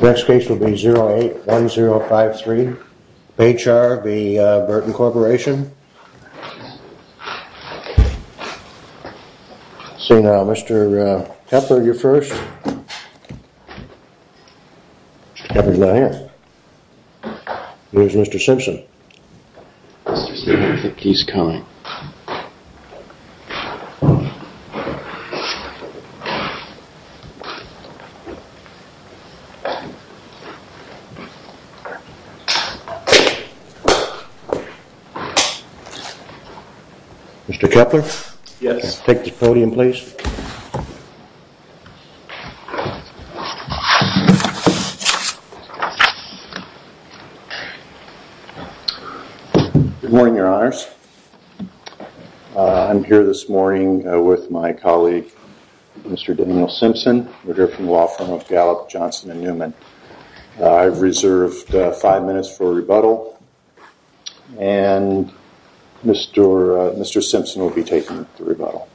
Next case will be 081053 Baychar v. Burton Corp. Mr. Kepler? Yes. Take the podium please. Good morning, your honors. I'm here this morning with my colleague, Mr. Daniel Simpson, the Director of the Law Firm of Gallup, Johnson & Newman. I've reserved five minutes for a rebuttal, and Mr. Simpson will be taking the rebuttal.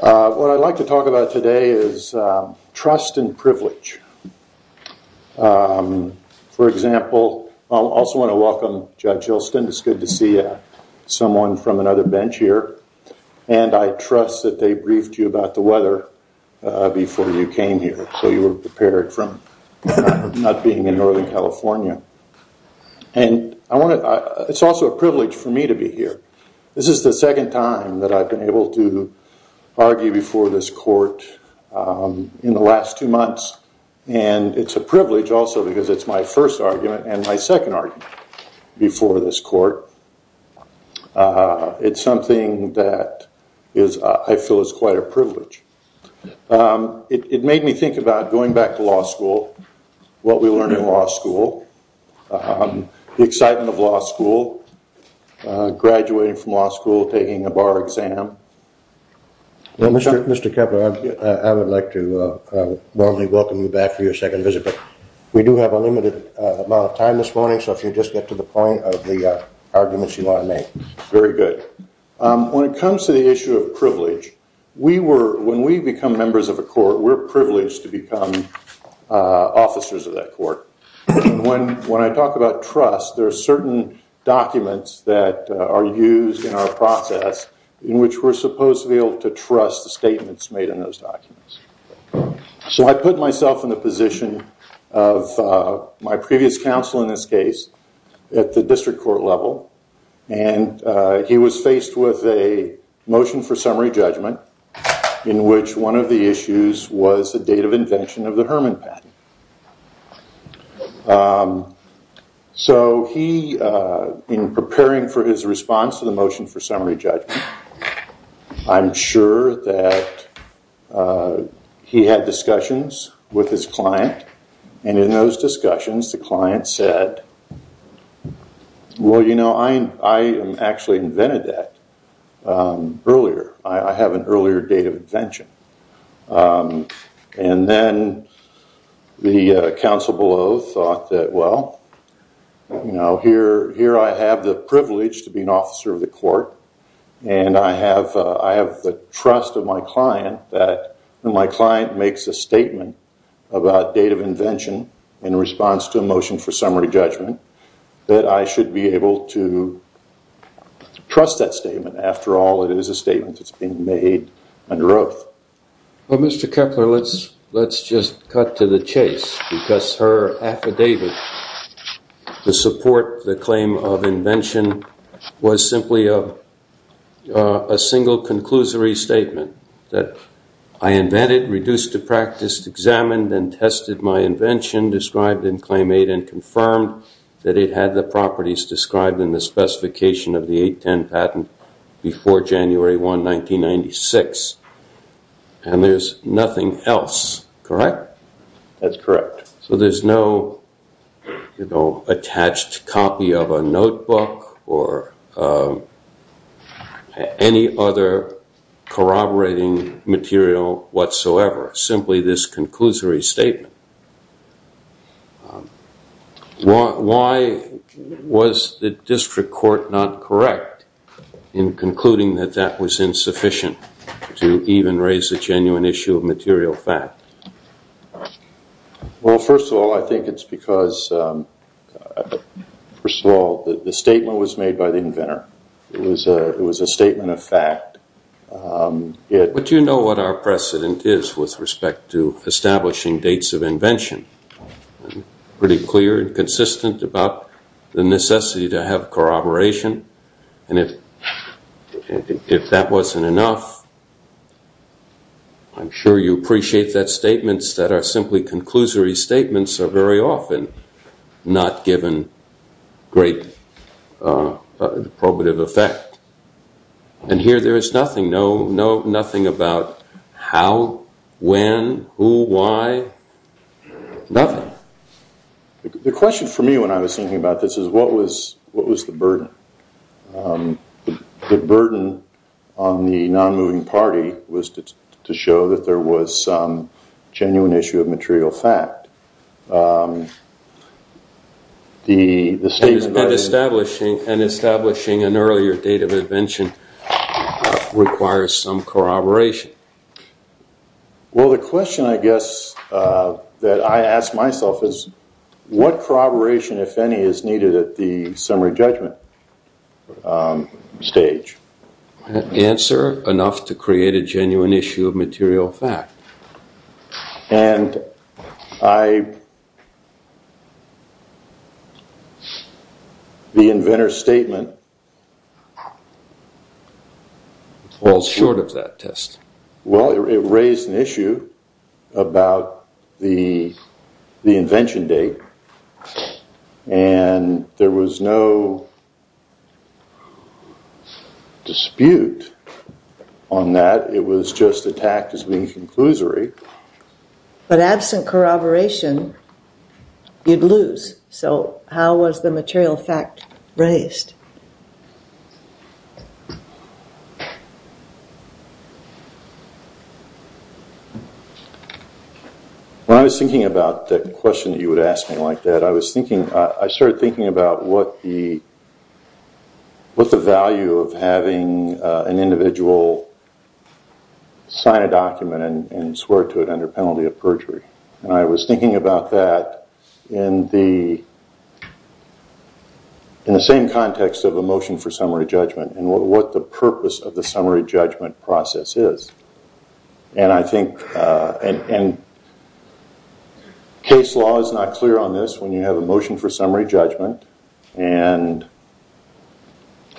What I'd like to talk about today is trust and privilege. For example, I also want to welcome Judge Hylston. It's good to see someone from another bench here, and I trust that they briefed you about the weather before you came here, so you were prepared for not being in Northern California. It's also a privilege for me to be here. This is the second time that I've been able to argue before this court in the last two months, and it's a privilege also because it's my first argument and my second argument before this court. It's something that I feel is quite a privilege. It made me think about going back to law school, what we learned in law school, the excitement of law school, graduating from law school, taking a bar exam. Mr. Kepler, I would like to warmly welcome you back for your second visit, but we do have a limited amount of time this morning, so if you just get to the point of the arguments you want to make. Very good. When it comes to the issue of privilege, when we become members of a court, we're privileged to become officers of that court. When I talk about trust, there are certain documents that are used in our process in which we're supposed to be able to trust the statements made in those documents. I put myself in the position of my previous counsel in this case at the district court level, and he was faced with a motion for summary judgment in which one of the issues was the date of invention of the Herman patent. So he, in preparing for his response to the motion for summary judgment, I'm sure that he had discussions with his client, and in those discussions, the client said, well, you know, I actually invented that earlier. I have an earlier date of invention. And then the counsel below thought that, well, you know, here I have the privilege to be an client that when my client makes a statement about date of invention in response to a motion for summary judgment, that I should be able to trust that statement. After all, it is a statement that's being made under oath. Well, Mr. Kepler, let's just cut to the chase, because her affidavit, the support, the claim of invention was simply a single conclusory statement that I invented, reduced to practice, examined, and tested my invention described in Claim 8 and confirmed that it had the properties described in the specification of the 810 patent before January 1, 1996. And there's nothing else, correct? That's correct. So there's no, you know, attached copy of a notebook or any other corroborating material whatsoever, simply this conclusory statement. Why was the district court not correct in concluding that that was insufficient to even raise a genuine issue of material fact? Well, first of all, I think it's because, first of all, the statement was made by the inventor. It was a statement of fact. But you know what our precedent is with respect to establishing dates of invention. I'm pretty clear and consistent about the necessity to have corroboration, and if that wasn't enough, I'm sure you appreciate that statements that are simply conclusory statements are very often not given great probative effect. And here there is nothing, nothing about how, when, who, why, nothing. The question for me when I was thinking about this is what was the burden? The burden on the non-moving party was to show that there was some genuine issue of material fact. Establishing an earlier date of invention requires some corroboration. Well, the question, I guess, that I ask myself is what corroboration, if any, is needed at the And I, the inventor's statement falls short of that test. Well, it raised an issue about the invention date, and there was no dispute on that. It was just attacked as being conclusory. But absent corroboration, you'd lose. So how was the material fact raised? When I was thinking about the question that you would ask me like that, I was thinking, I started thinking about what the value of having an individual sign a document and swear to it under penalty of perjury. And I was thinking about that in the same context of a motion for summary judgment and what the purpose of the summary judgment process is. And I think, and case law is not clear on this, when you have a motion for summary judgment and,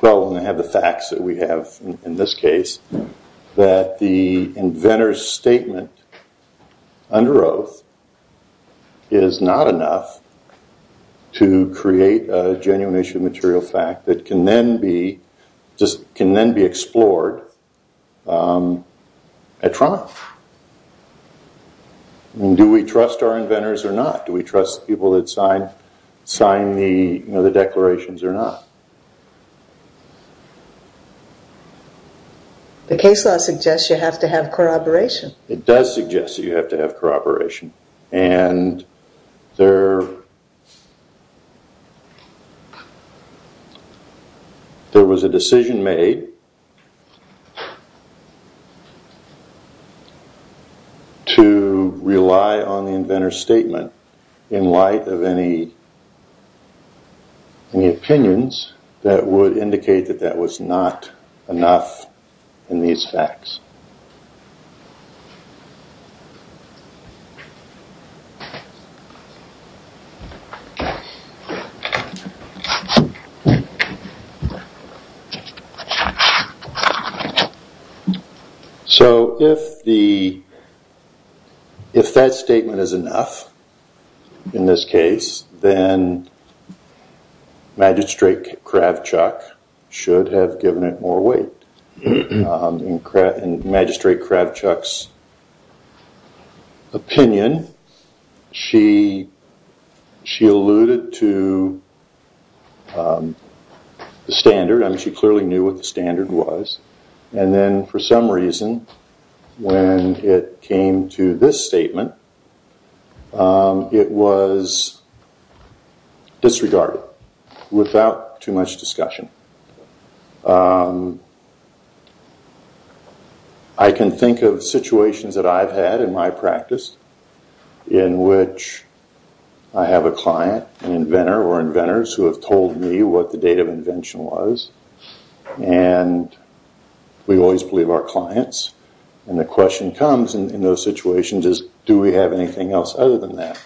well, when they have the facts that we have in this case, that the inventor's statement under oath is not enough to create a genuine issue of material fact that can then be, just can then be explored at trial. Do we trust our inventors or not? Do we trust people that sign the declarations or not? The case law suggests you have to have corroboration. It does suggest that you have to have corroboration. And there, there was a decision made to rely on the inventor's statement in light of any opinions that would indicate that that was not enough in these facts. So, if the, if that statement is enough, in this case, then Magistrate Kravchuk should have given it more weight. In Magistrate Kravchuk's opinion, she alluded to the standard. I mean, she clearly knew what the standard was. And then for some reason, when it came to this statement, it was disregarded without too much discussion. I can think of situations that I've had in my practice in which I have a client, an inventor or inventors who have told me what the date of invention was. And we always believe our clients. And the question comes in those situations is, do we have anything else other than that?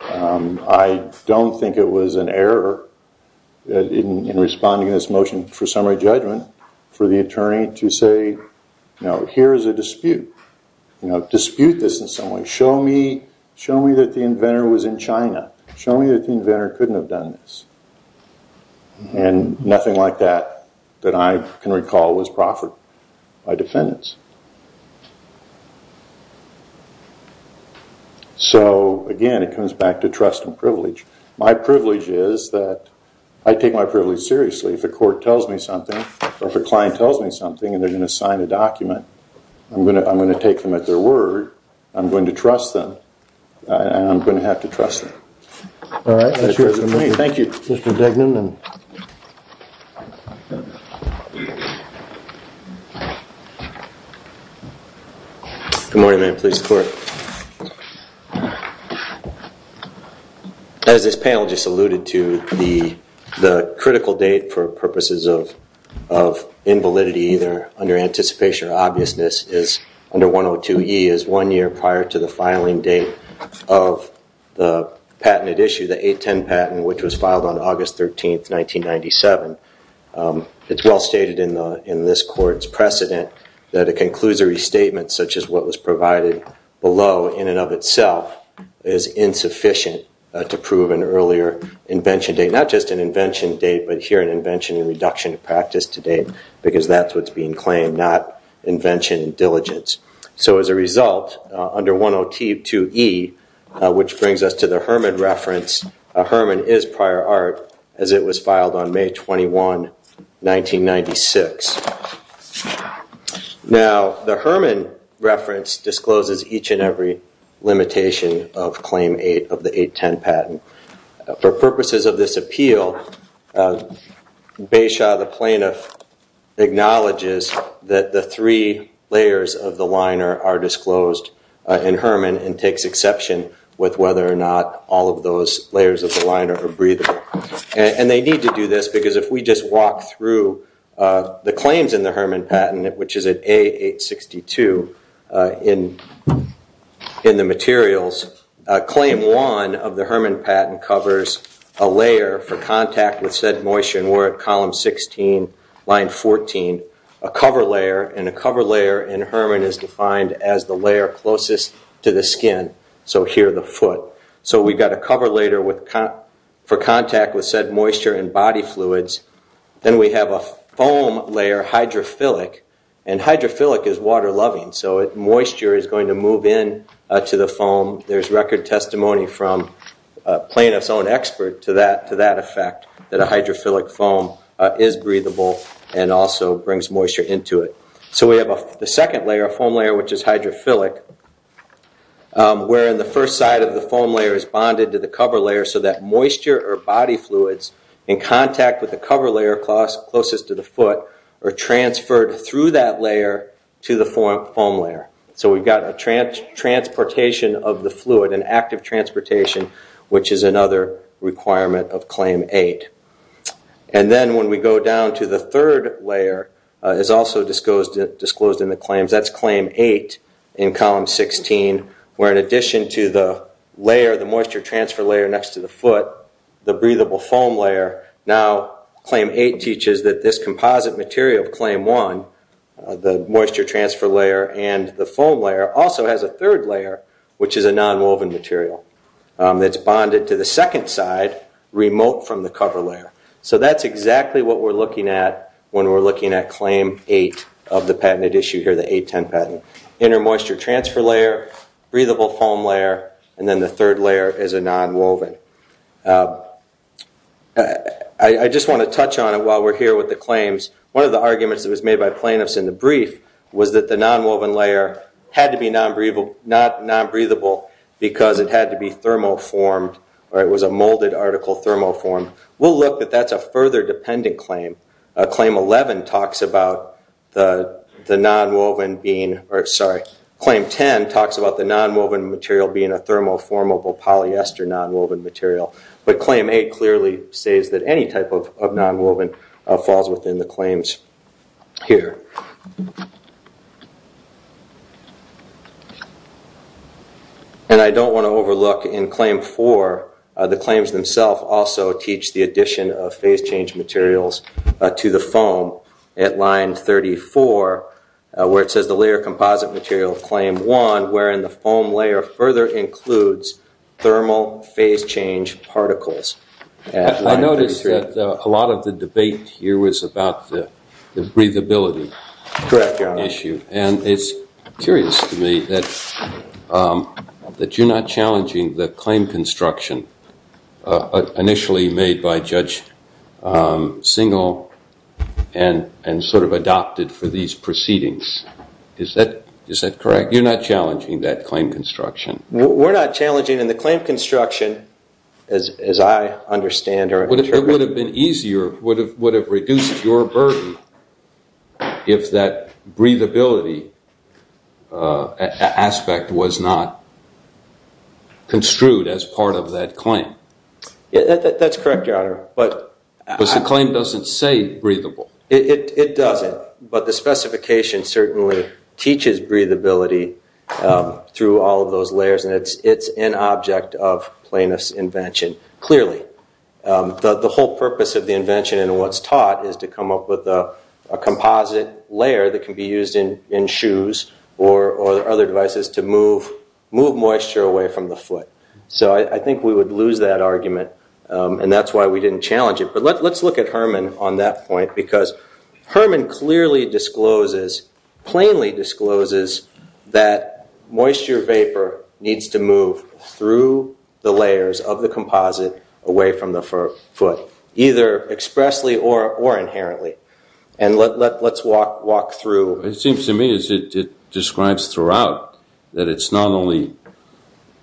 I don't think it was an error in responding to this motion for summary judgment for the attorney to say, you know, here is a dispute. You know, dispute this in some way. Show me, show me that the inventor was in China. Show me that the inventor couldn't have done this. And nothing like that, that I can back to trust and privilege. My privilege is that I take my privilege seriously. If a court tells me something or if a client tells me something and they're going to sign a document, I'm going to take them at their word. I'm going to trust them. And I'm going to have to trust them. All right. Thank you, Mr. Dignan. Good morning, please. As this panel just alluded to, the critical date for purposes of invalidity either under anticipation or obviousness is under 102E is one year prior to the filing date of the patented issue, the 810 patent, which was filed on August 13, 1997. It's well stated in this court's precedent that a conclusory statement such as what was provided below in and of itself is insufficient to prove an earlier invention date, not just an invention date, but here an invention and reduction of practice to date because that's what's being claimed, not invention and diligence. So as a result, under 102E, which brings us to the Herman reference, Herman is prior art as it was filed on May 21, 1996. Now, the Herman reference discloses each and every limitation of Claim 8 of the 810 patent. For purposes of this appeal, Beyshaw, the plaintiff, acknowledges that the three layers of the liner are disclosed in Herman and takes exception with whether or not all of those layers of the liner are breathable. And they need to do this because if we just walk through the claims in the Herman patent, which is at A862 in the materials, Claim 1 of the Herman patent covers a layer for contact with said moisture, and we're at column 16, line 14, a cover layer, and a cover layer in Herman is defined as the layer closest to the skin, so here the foot. So we've got a cover layer for contact with said moisture and body fluids. Then we have a foam layer, hydrophilic, and hydrophilic is water-loving, so moisture is going to move in to the foam. There's record testimony from a plaintiff's own expert to that effect, that a hydrophilic foam is breathable and also brings moisture into it. So we have the second layer, a foam layer which is hydrophilic, where in the first side of the foam layer is bonded to the cover layer so that moisture or body fluids in contact with the cover layer closest to the foot are transferred through that layer to the foam layer. So we've got a transportation of the fluid, an active transportation, which is another requirement of Claim 8. And then when we go down to the third layer, is also disclosed in the claims, that's Claim 8 in Column 16, where in addition to the layer, the moisture transfer layer next to the foot, the breathable foam layer, now Claim 8 teaches that this composite material of Claim 1, the moisture transfer layer and the foam layer, also has a third layer which is a non-woven material that's bonded to the second side, remote from the cover layer. So that's exactly what we're looking at when we're looking at Claim 8 of the patented issue here, the 810 patent. Inner moisture transfer layer, breathable foam layer, and then the third layer is a non-woven. I just want to touch on it while we're here with the claims. One of the arguments that was made by plaintiffs in the brief was that the non-woven layer had to be non-breathable because it had to be thermoformed, or it was a molded article thermoformed. We'll look, but that's a further dependent claim. Claim 11 talks about the non-woven being, or sorry, Claim 10 talks about the non-woven material being a thermoformable polyester non-woven material. But Claim 8 clearly says that any type of non-woven falls within the claims here. And I don't want to overlook in Claim 4, the claims themselves also teach the addition of phase change materials to the foam at Line 34 where it says the layer composite material of Claim 1 wherein the foam layer further includes thermal phase change particles. I noticed that a lot of the debate here was about the breathability issue, and it's curious to me that you're not challenging the claim construction initially made by Judge Singal and sort of adopted for these proceedings. Is that correct? You're not challenging that understand or interpret? It would have been easier, would have reduced your burden if that breathability aspect was not construed as part of that claim. That's correct, Your Honor. But the claim doesn't say breathable. It doesn't, but the specification certainly teaches breathability through all of those layers, and it's an object of plaintiff's clearly. The whole purpose of the invention and what's taught is to come up with a composite layer that can be used in shoes or other devices to move moisture away from the foot. So I think we would lose that argument, and that's why we didn't challenge it. But let's look at Herman on that point because Herman clearly discloses, plainly discloses that moisture vapor needs to through the layers of the composite away from the foot, either expressly or inherently. And let's walk through. It seems to me as it describes throughout that it's not only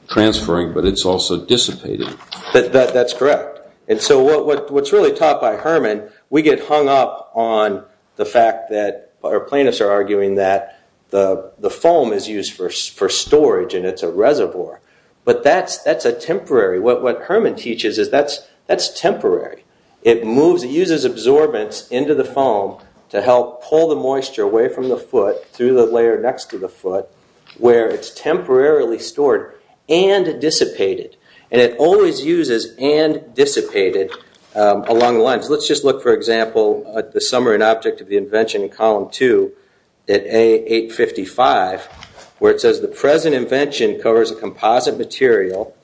transferring, but it's also dissipating. That's correct. And so what's really taught by Herman, we get hung up on the fact that our plaintiffs are arguing that the foam is used for storage and it's a reservoir. But that's a temporary. What Herman teaches is that's temporary. It moves, it uses absorbance into the foam to help pull the moisture away from the foot through the layer next to the foot where it's temporarily stored and dissipated. And it always uses and dissipated along the lines. Let's just look, for example, at the summary and object of the invention in column two at A855 where it says the present invention covers a composite material.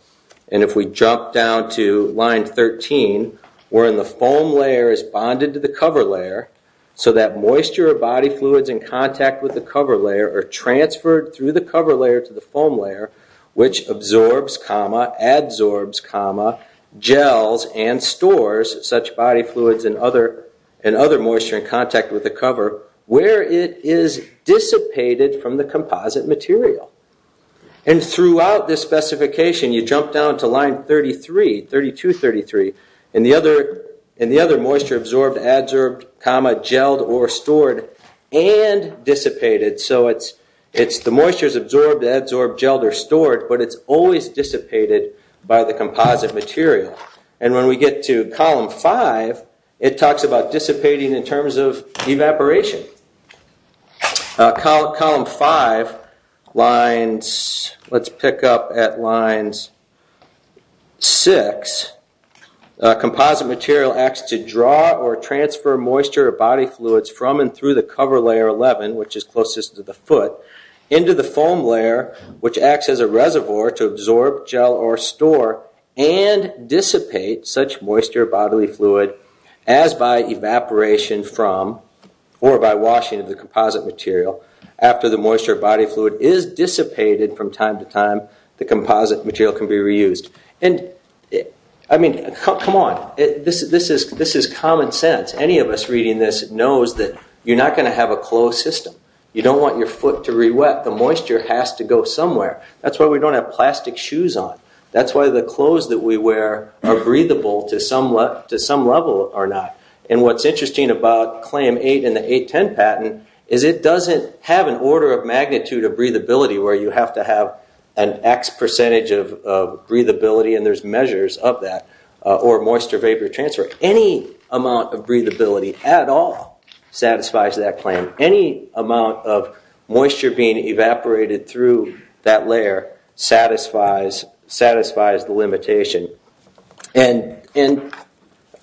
And if we jump down to line 13, wherein the foam layer is bonded to the cover layer so that moisture or body fluids in contact with the cover layer are transferred through the cover layer to the foam layer, which absorbs, adsorbs, gels, and stores such body fluids and other moisture in contact with the cover where it is dissipated from the composite material. And throughout this specification, you jump down to line 33, 32.33, and the other moisture absorbed, adsorbed, gelled, or stored and dissipated. So it's the moisture is absorbed, adsorbed, gelled, or stored, but it's always dissipated by the composite material. And when we get to column five, it talks about dissipating in terms of evaporation. Column five lines, let's pick up at lines six, composite material acts to draw or transfer moisture or body fluids from and through the cover layer 11, which is closest to the foot, into the foam layer, which acts as a reservoir to absorb, gel, or store and dissipate such moisture or bodily fluid as by evaporation from or by washing of the composite material. After the moisture or body fluid is dissipated from time to time, the composite material can be reused. And I mean, come on. This is common sense. Any of us reading this knows that you're not going to have a closed system. You don't want your foot to re-wet. The moisture has to go somewhere. That's why we don't have plastic shoes on. That's why the clothes that we wear are breathable to some level or not. And what's interesting about Claim 8 in the 810 patent is it doesn't have an order of magnitude of breathability where you have to have an X percentage of breathability, and there's measures of that, or moisture vapor transfer. Any amount of breathability at all satisfies that claim. Any amount of moisture being evaporated through that layer satisfies the limitation. And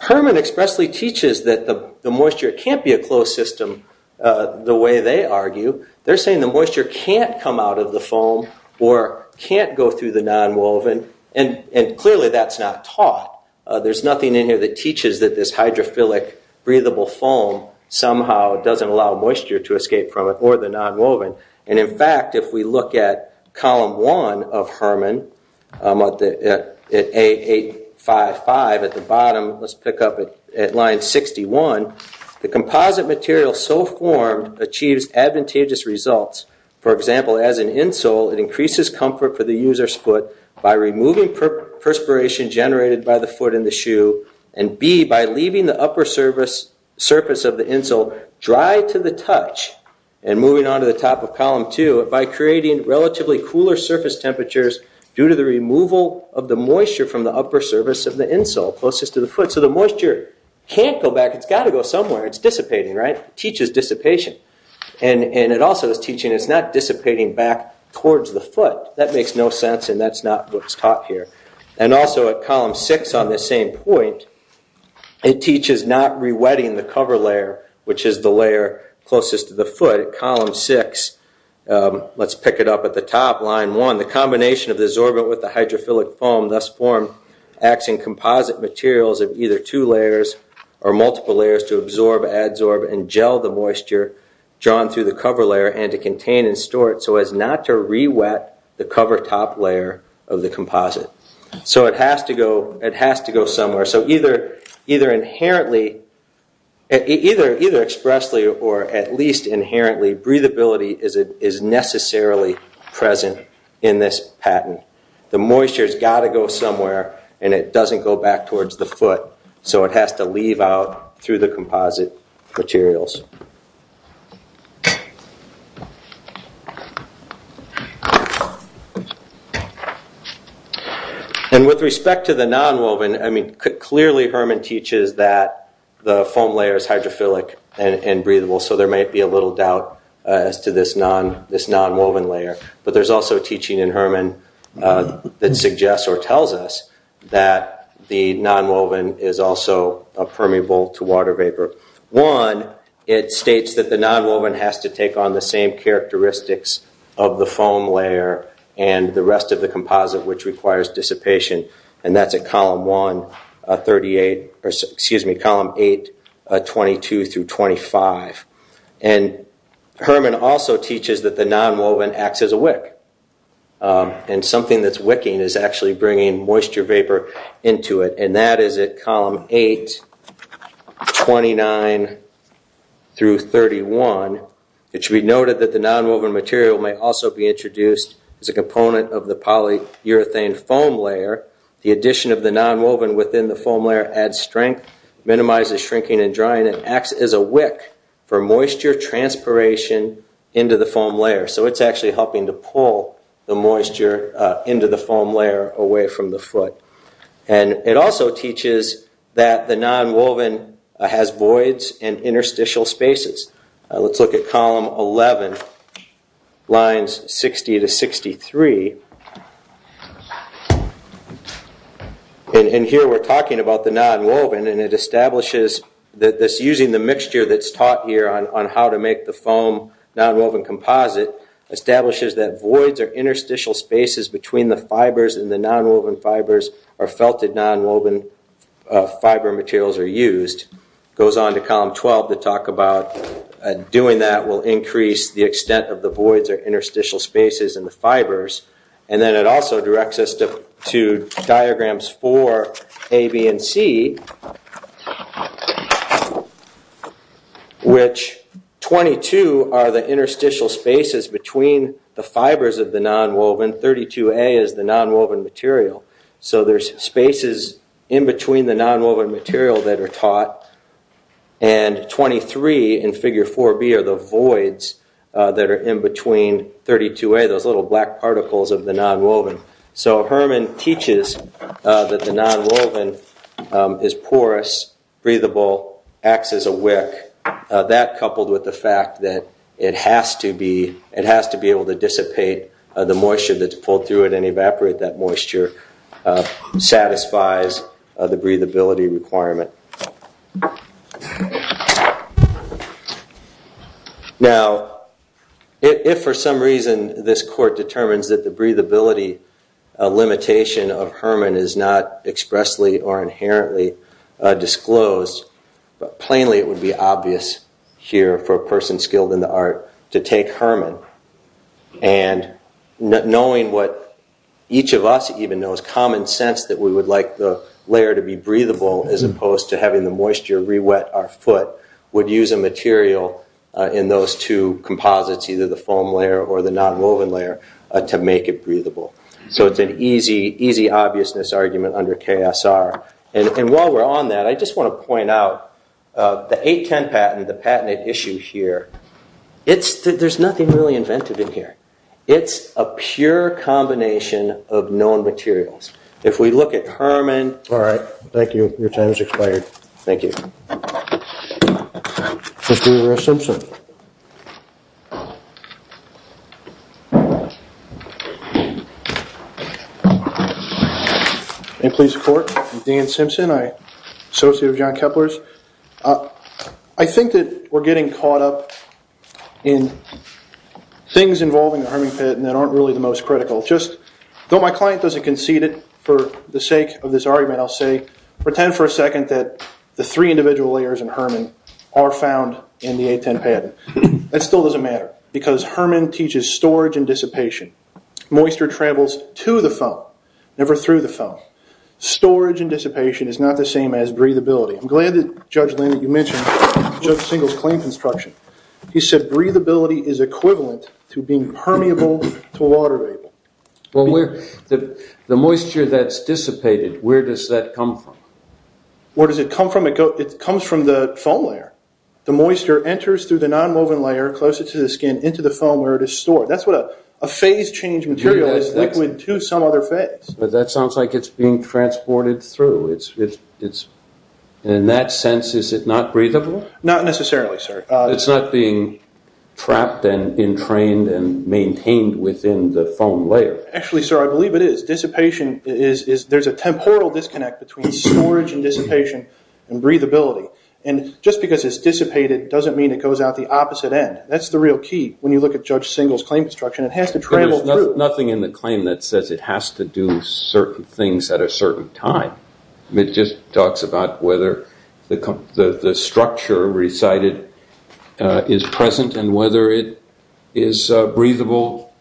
Herman expressly teaches that the moisture can't be a closed system the way they argue. They're saying the moisture can't come out of the foam or can't go through the nonwoven, and clearly that's not taught. There's nothing in here that teaches that this hydrophilic breathable foam somehow doesn't allow moisture to escape from or the nonwoven. And in fact, if we look at column one of Herman at A855 at the bottom, let's pick up at line 61, the composite material so formed achieves advantageous results. For example, as an insole, it increases comfort for the user's foot by removing perspiration generated by the And moving on to the top of column two, by creating relatively cooler surface temperatures due to the removal of the moisture from the upper surface of the insole closest to the foot, so the moisture can't go back. It's got to go somewhere. It's dissipating, right? It teaches dissipation. And it also is teaching it's not dissipating back towards the foot. That makes no sense, and that's not what's taught here. And also at column six on this same point, it teaches not rewetting the cover layer, which is the layer closest to the foot. Column six, let's pick it up at the top, line one, the combination of the absorbent with the hydrophilic foam thus formed acts in composite materials of either two layers or multiple layers to absorb, adsorb, and gel the moisture drawn through the cover layer and to contain and store it so as to rewet the cover top layer of the composite. So it has to go somewhere. So either expressly or at least inherently, breathability is necessarily present in this patent. The moisture has got to go somewhere, and it doesn't go back towards the foot, so it has to leave out through composite materials. And with respect to the nonwoven, I mean, clearly Herman teaches that the foam layer is hydrophilic and breathable, so there might be a little doubt as to this nonwoven layer. But there's also teaching in Herman that suggests or tells us that the nonwoven is also permeable to water vapor. One, it states that the nonwoven has to take on the same characteristics of the foam layer and the rest of the composite, which requires dissipation, and that's at column eight, 22 through 25. And Herman also teaches that the nonwoven acts as a wick, and something that's wicking is actually bringing moisture vapor into it, and that is at column eight, 29 through 31. It should be noted that the nonwoven material may also be introduced as a component of the polyurethane foam layer. The addition of the nonwoven within the foam layer adds strength, minimizes shrinking and drying, and acts as a wick for moisture transpiration into the foam layer. So it's actually helping to pull the moisture into the foam layer away from the foot. And it also teaches that the nonwoven has voids and interstitial spaces. Let's look at column 11, lines 60 to 63. And here we're talking about the nonwoven, and it establishes that using the mixture that's taught here on how to make the foam nonwoven composite establishes that voids or interstitial spaces between the fibers and the nonwoven fibers or felted nonwoven fiber materials are used. Goes on to column 12 to talk about doing that will increase the extent of the voids or interstitial spaces in the fibers. And then it also directs us to diagrams for A, B, and C, which 22 are the interstitial spaces between the fibers of the nonwoven, 32A is the nonwoven material. So there's spaces in between the nonwoven material that are taught, and 23 in figure 4B are the voids that are in between 32A, those little black particles of the nonwoven. So Herman teaches that the nonwoven is porous, breathable, acts as a wick. That coupled with the fact that it has to be able to dissipate the moisture that's pulled through it and evaporate that moisture satisfies the breathability requirement. Now, if for some reason this court determines that the breathability limitation of Herman is not expressly or inherently disclosed, plainly it would be obvious here for a person skilled in the art to take Herman. And knowing what each of us even knows, common sense that we would like the breathable as opposed to having the moisture re-wet our foot would use a material in those two composites, either the foam layer or the nonwoven layer, to make it breathable. So it's an easy obviousness argument under KSR. And while we're on that, I just want to point out the 810 patent, the patented issue here, there's nothing really invented in here. It's a pure combination of known materials. If we look at Herman... All right. Thank you. Your time has expired. Thank you. Mr. Rivera-Simpson. In police court, I'm Dan Simpson. I'm an associate of John Kepler's. I think that we're getting caught up in things involving the Herman patent that aren't really the most critical. Though my client doesn't concede it, for the sake of this argument, I'll say, pretend for a second that the three individual layers in Herman are found in the 810 patent. That still doesn't matter because Herman teaches storage and dissipation. Moisture travels to the foam, never through the foam. Storage and dissipation is not the same as breathability. I'm glad that, Judge Leonard, you mentioned Judge Singleton's claim construction. He said, breathability is equivalent to being permeable to a water vapor. Well, the moisture that's dissipated, where does that come from? Where does it come from? It comes from the foam layer. The moisture enters through the non-woven layer closer to the skin into the foam where it is stored. That's what a phase change material is liquid to some other phase. But that sounds like it's being transported through. In that sense, is it not breathable? Not necessarily, sir. It's not being trapped and entrained and maintained within the foam layer? Actually, sir, I believe it is. There's a temporal disconnect between storage and dissipation and breathability. Just because it's dissipated doesn't mean it goes out the opposite end. That's the real key. When you look at Judge Singleton's claim construction, it has to travel through. Nothing in the claim that says it has to do certain things at a certain time. It just talks about whether the structure recited is present and whether it is a breathable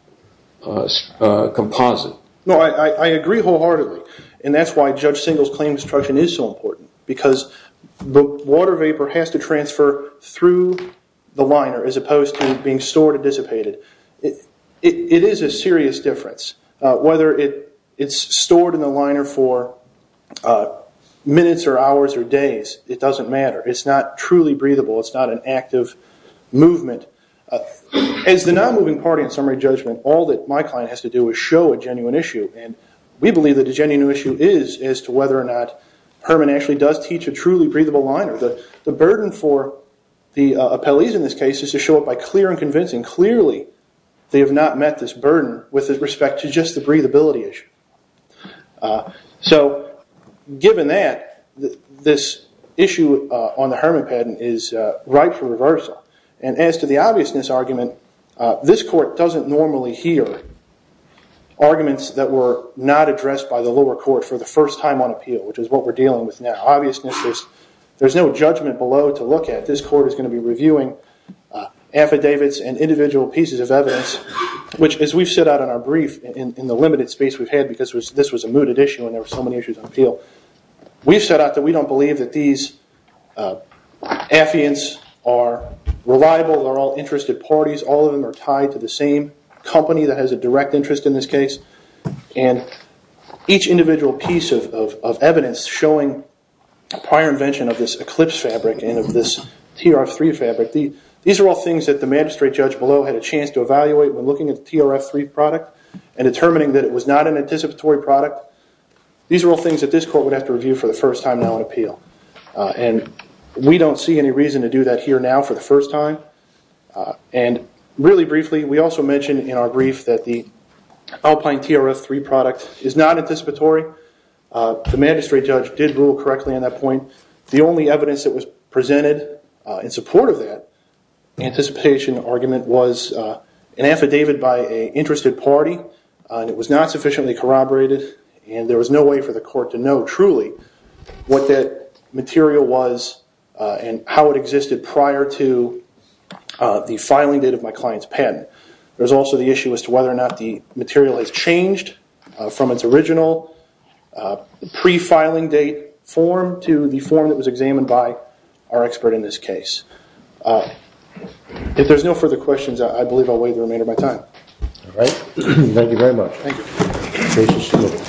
composite. I agree wholeheartedly. That's why Judge Singleton's claim construction is so important because the water vapor has to transfer through the liner as opposed to being stored and dissipated. It is a serious difference. Whether it's stored in the liner for minutes or hours or days, it doesn't matter. It's not truly breathable. It's not an active movement. As the non-moving party in summary judgment, all that my client has to do is show a genuine issue. We believe that the genuine issue is as to whether or not the burden for the appellees in this case is to show up by clear and convincing. Clearly, they have not met this burden with respect to just the breathability issue. Given that, this issue on the Herman patent is ripe for reversal. As to the obviousness argument, this court doesn't normally hear arguments that were not addressed by the lower court for the first time on appeal, which is what we're dealing with now. Obviousness is there's no judgment below to look at. This court is going to be reviewing affidavits and individual pieces of evidence, which as we've set out in our brief in the limited space we've had because this was a mooted issue and there were so many issues on appeal. We've set out that we don't believe that these affiants are reliable. They're all interested parties. All of them are tied to the same company that has a direct interest in this case. And each individual piece of evidence showing prior invention of this Eclipse fabric and of this TRF3 fabric, these are all things that the magistrate judge below had a chance to evaluate when looking at the TRF3 product and determining that it was not an anticipatory product. These are all things that this court would have to review for the first time now on appeal. And we don't see any reason to do that here now for the first time. And really briefly, we also mentioned in our brief that the Alpine TRF3 product is not anticipatory. The magistrate judge did rule correctly on that point. The only evidence that was presented in support of that anticipation argument was an affidavit by an interested party and it was not sufficiently corroborated and there was no way for the court to know truly what that material was and how it existed prior to the filing date of my client's patent. There's also the issue as to whether or not the material has changed from its original pre-filing date form to the form that was examined by our expert in this case. If there's no further questions, I believe I'll wait the remainder of my time. Thank you very much.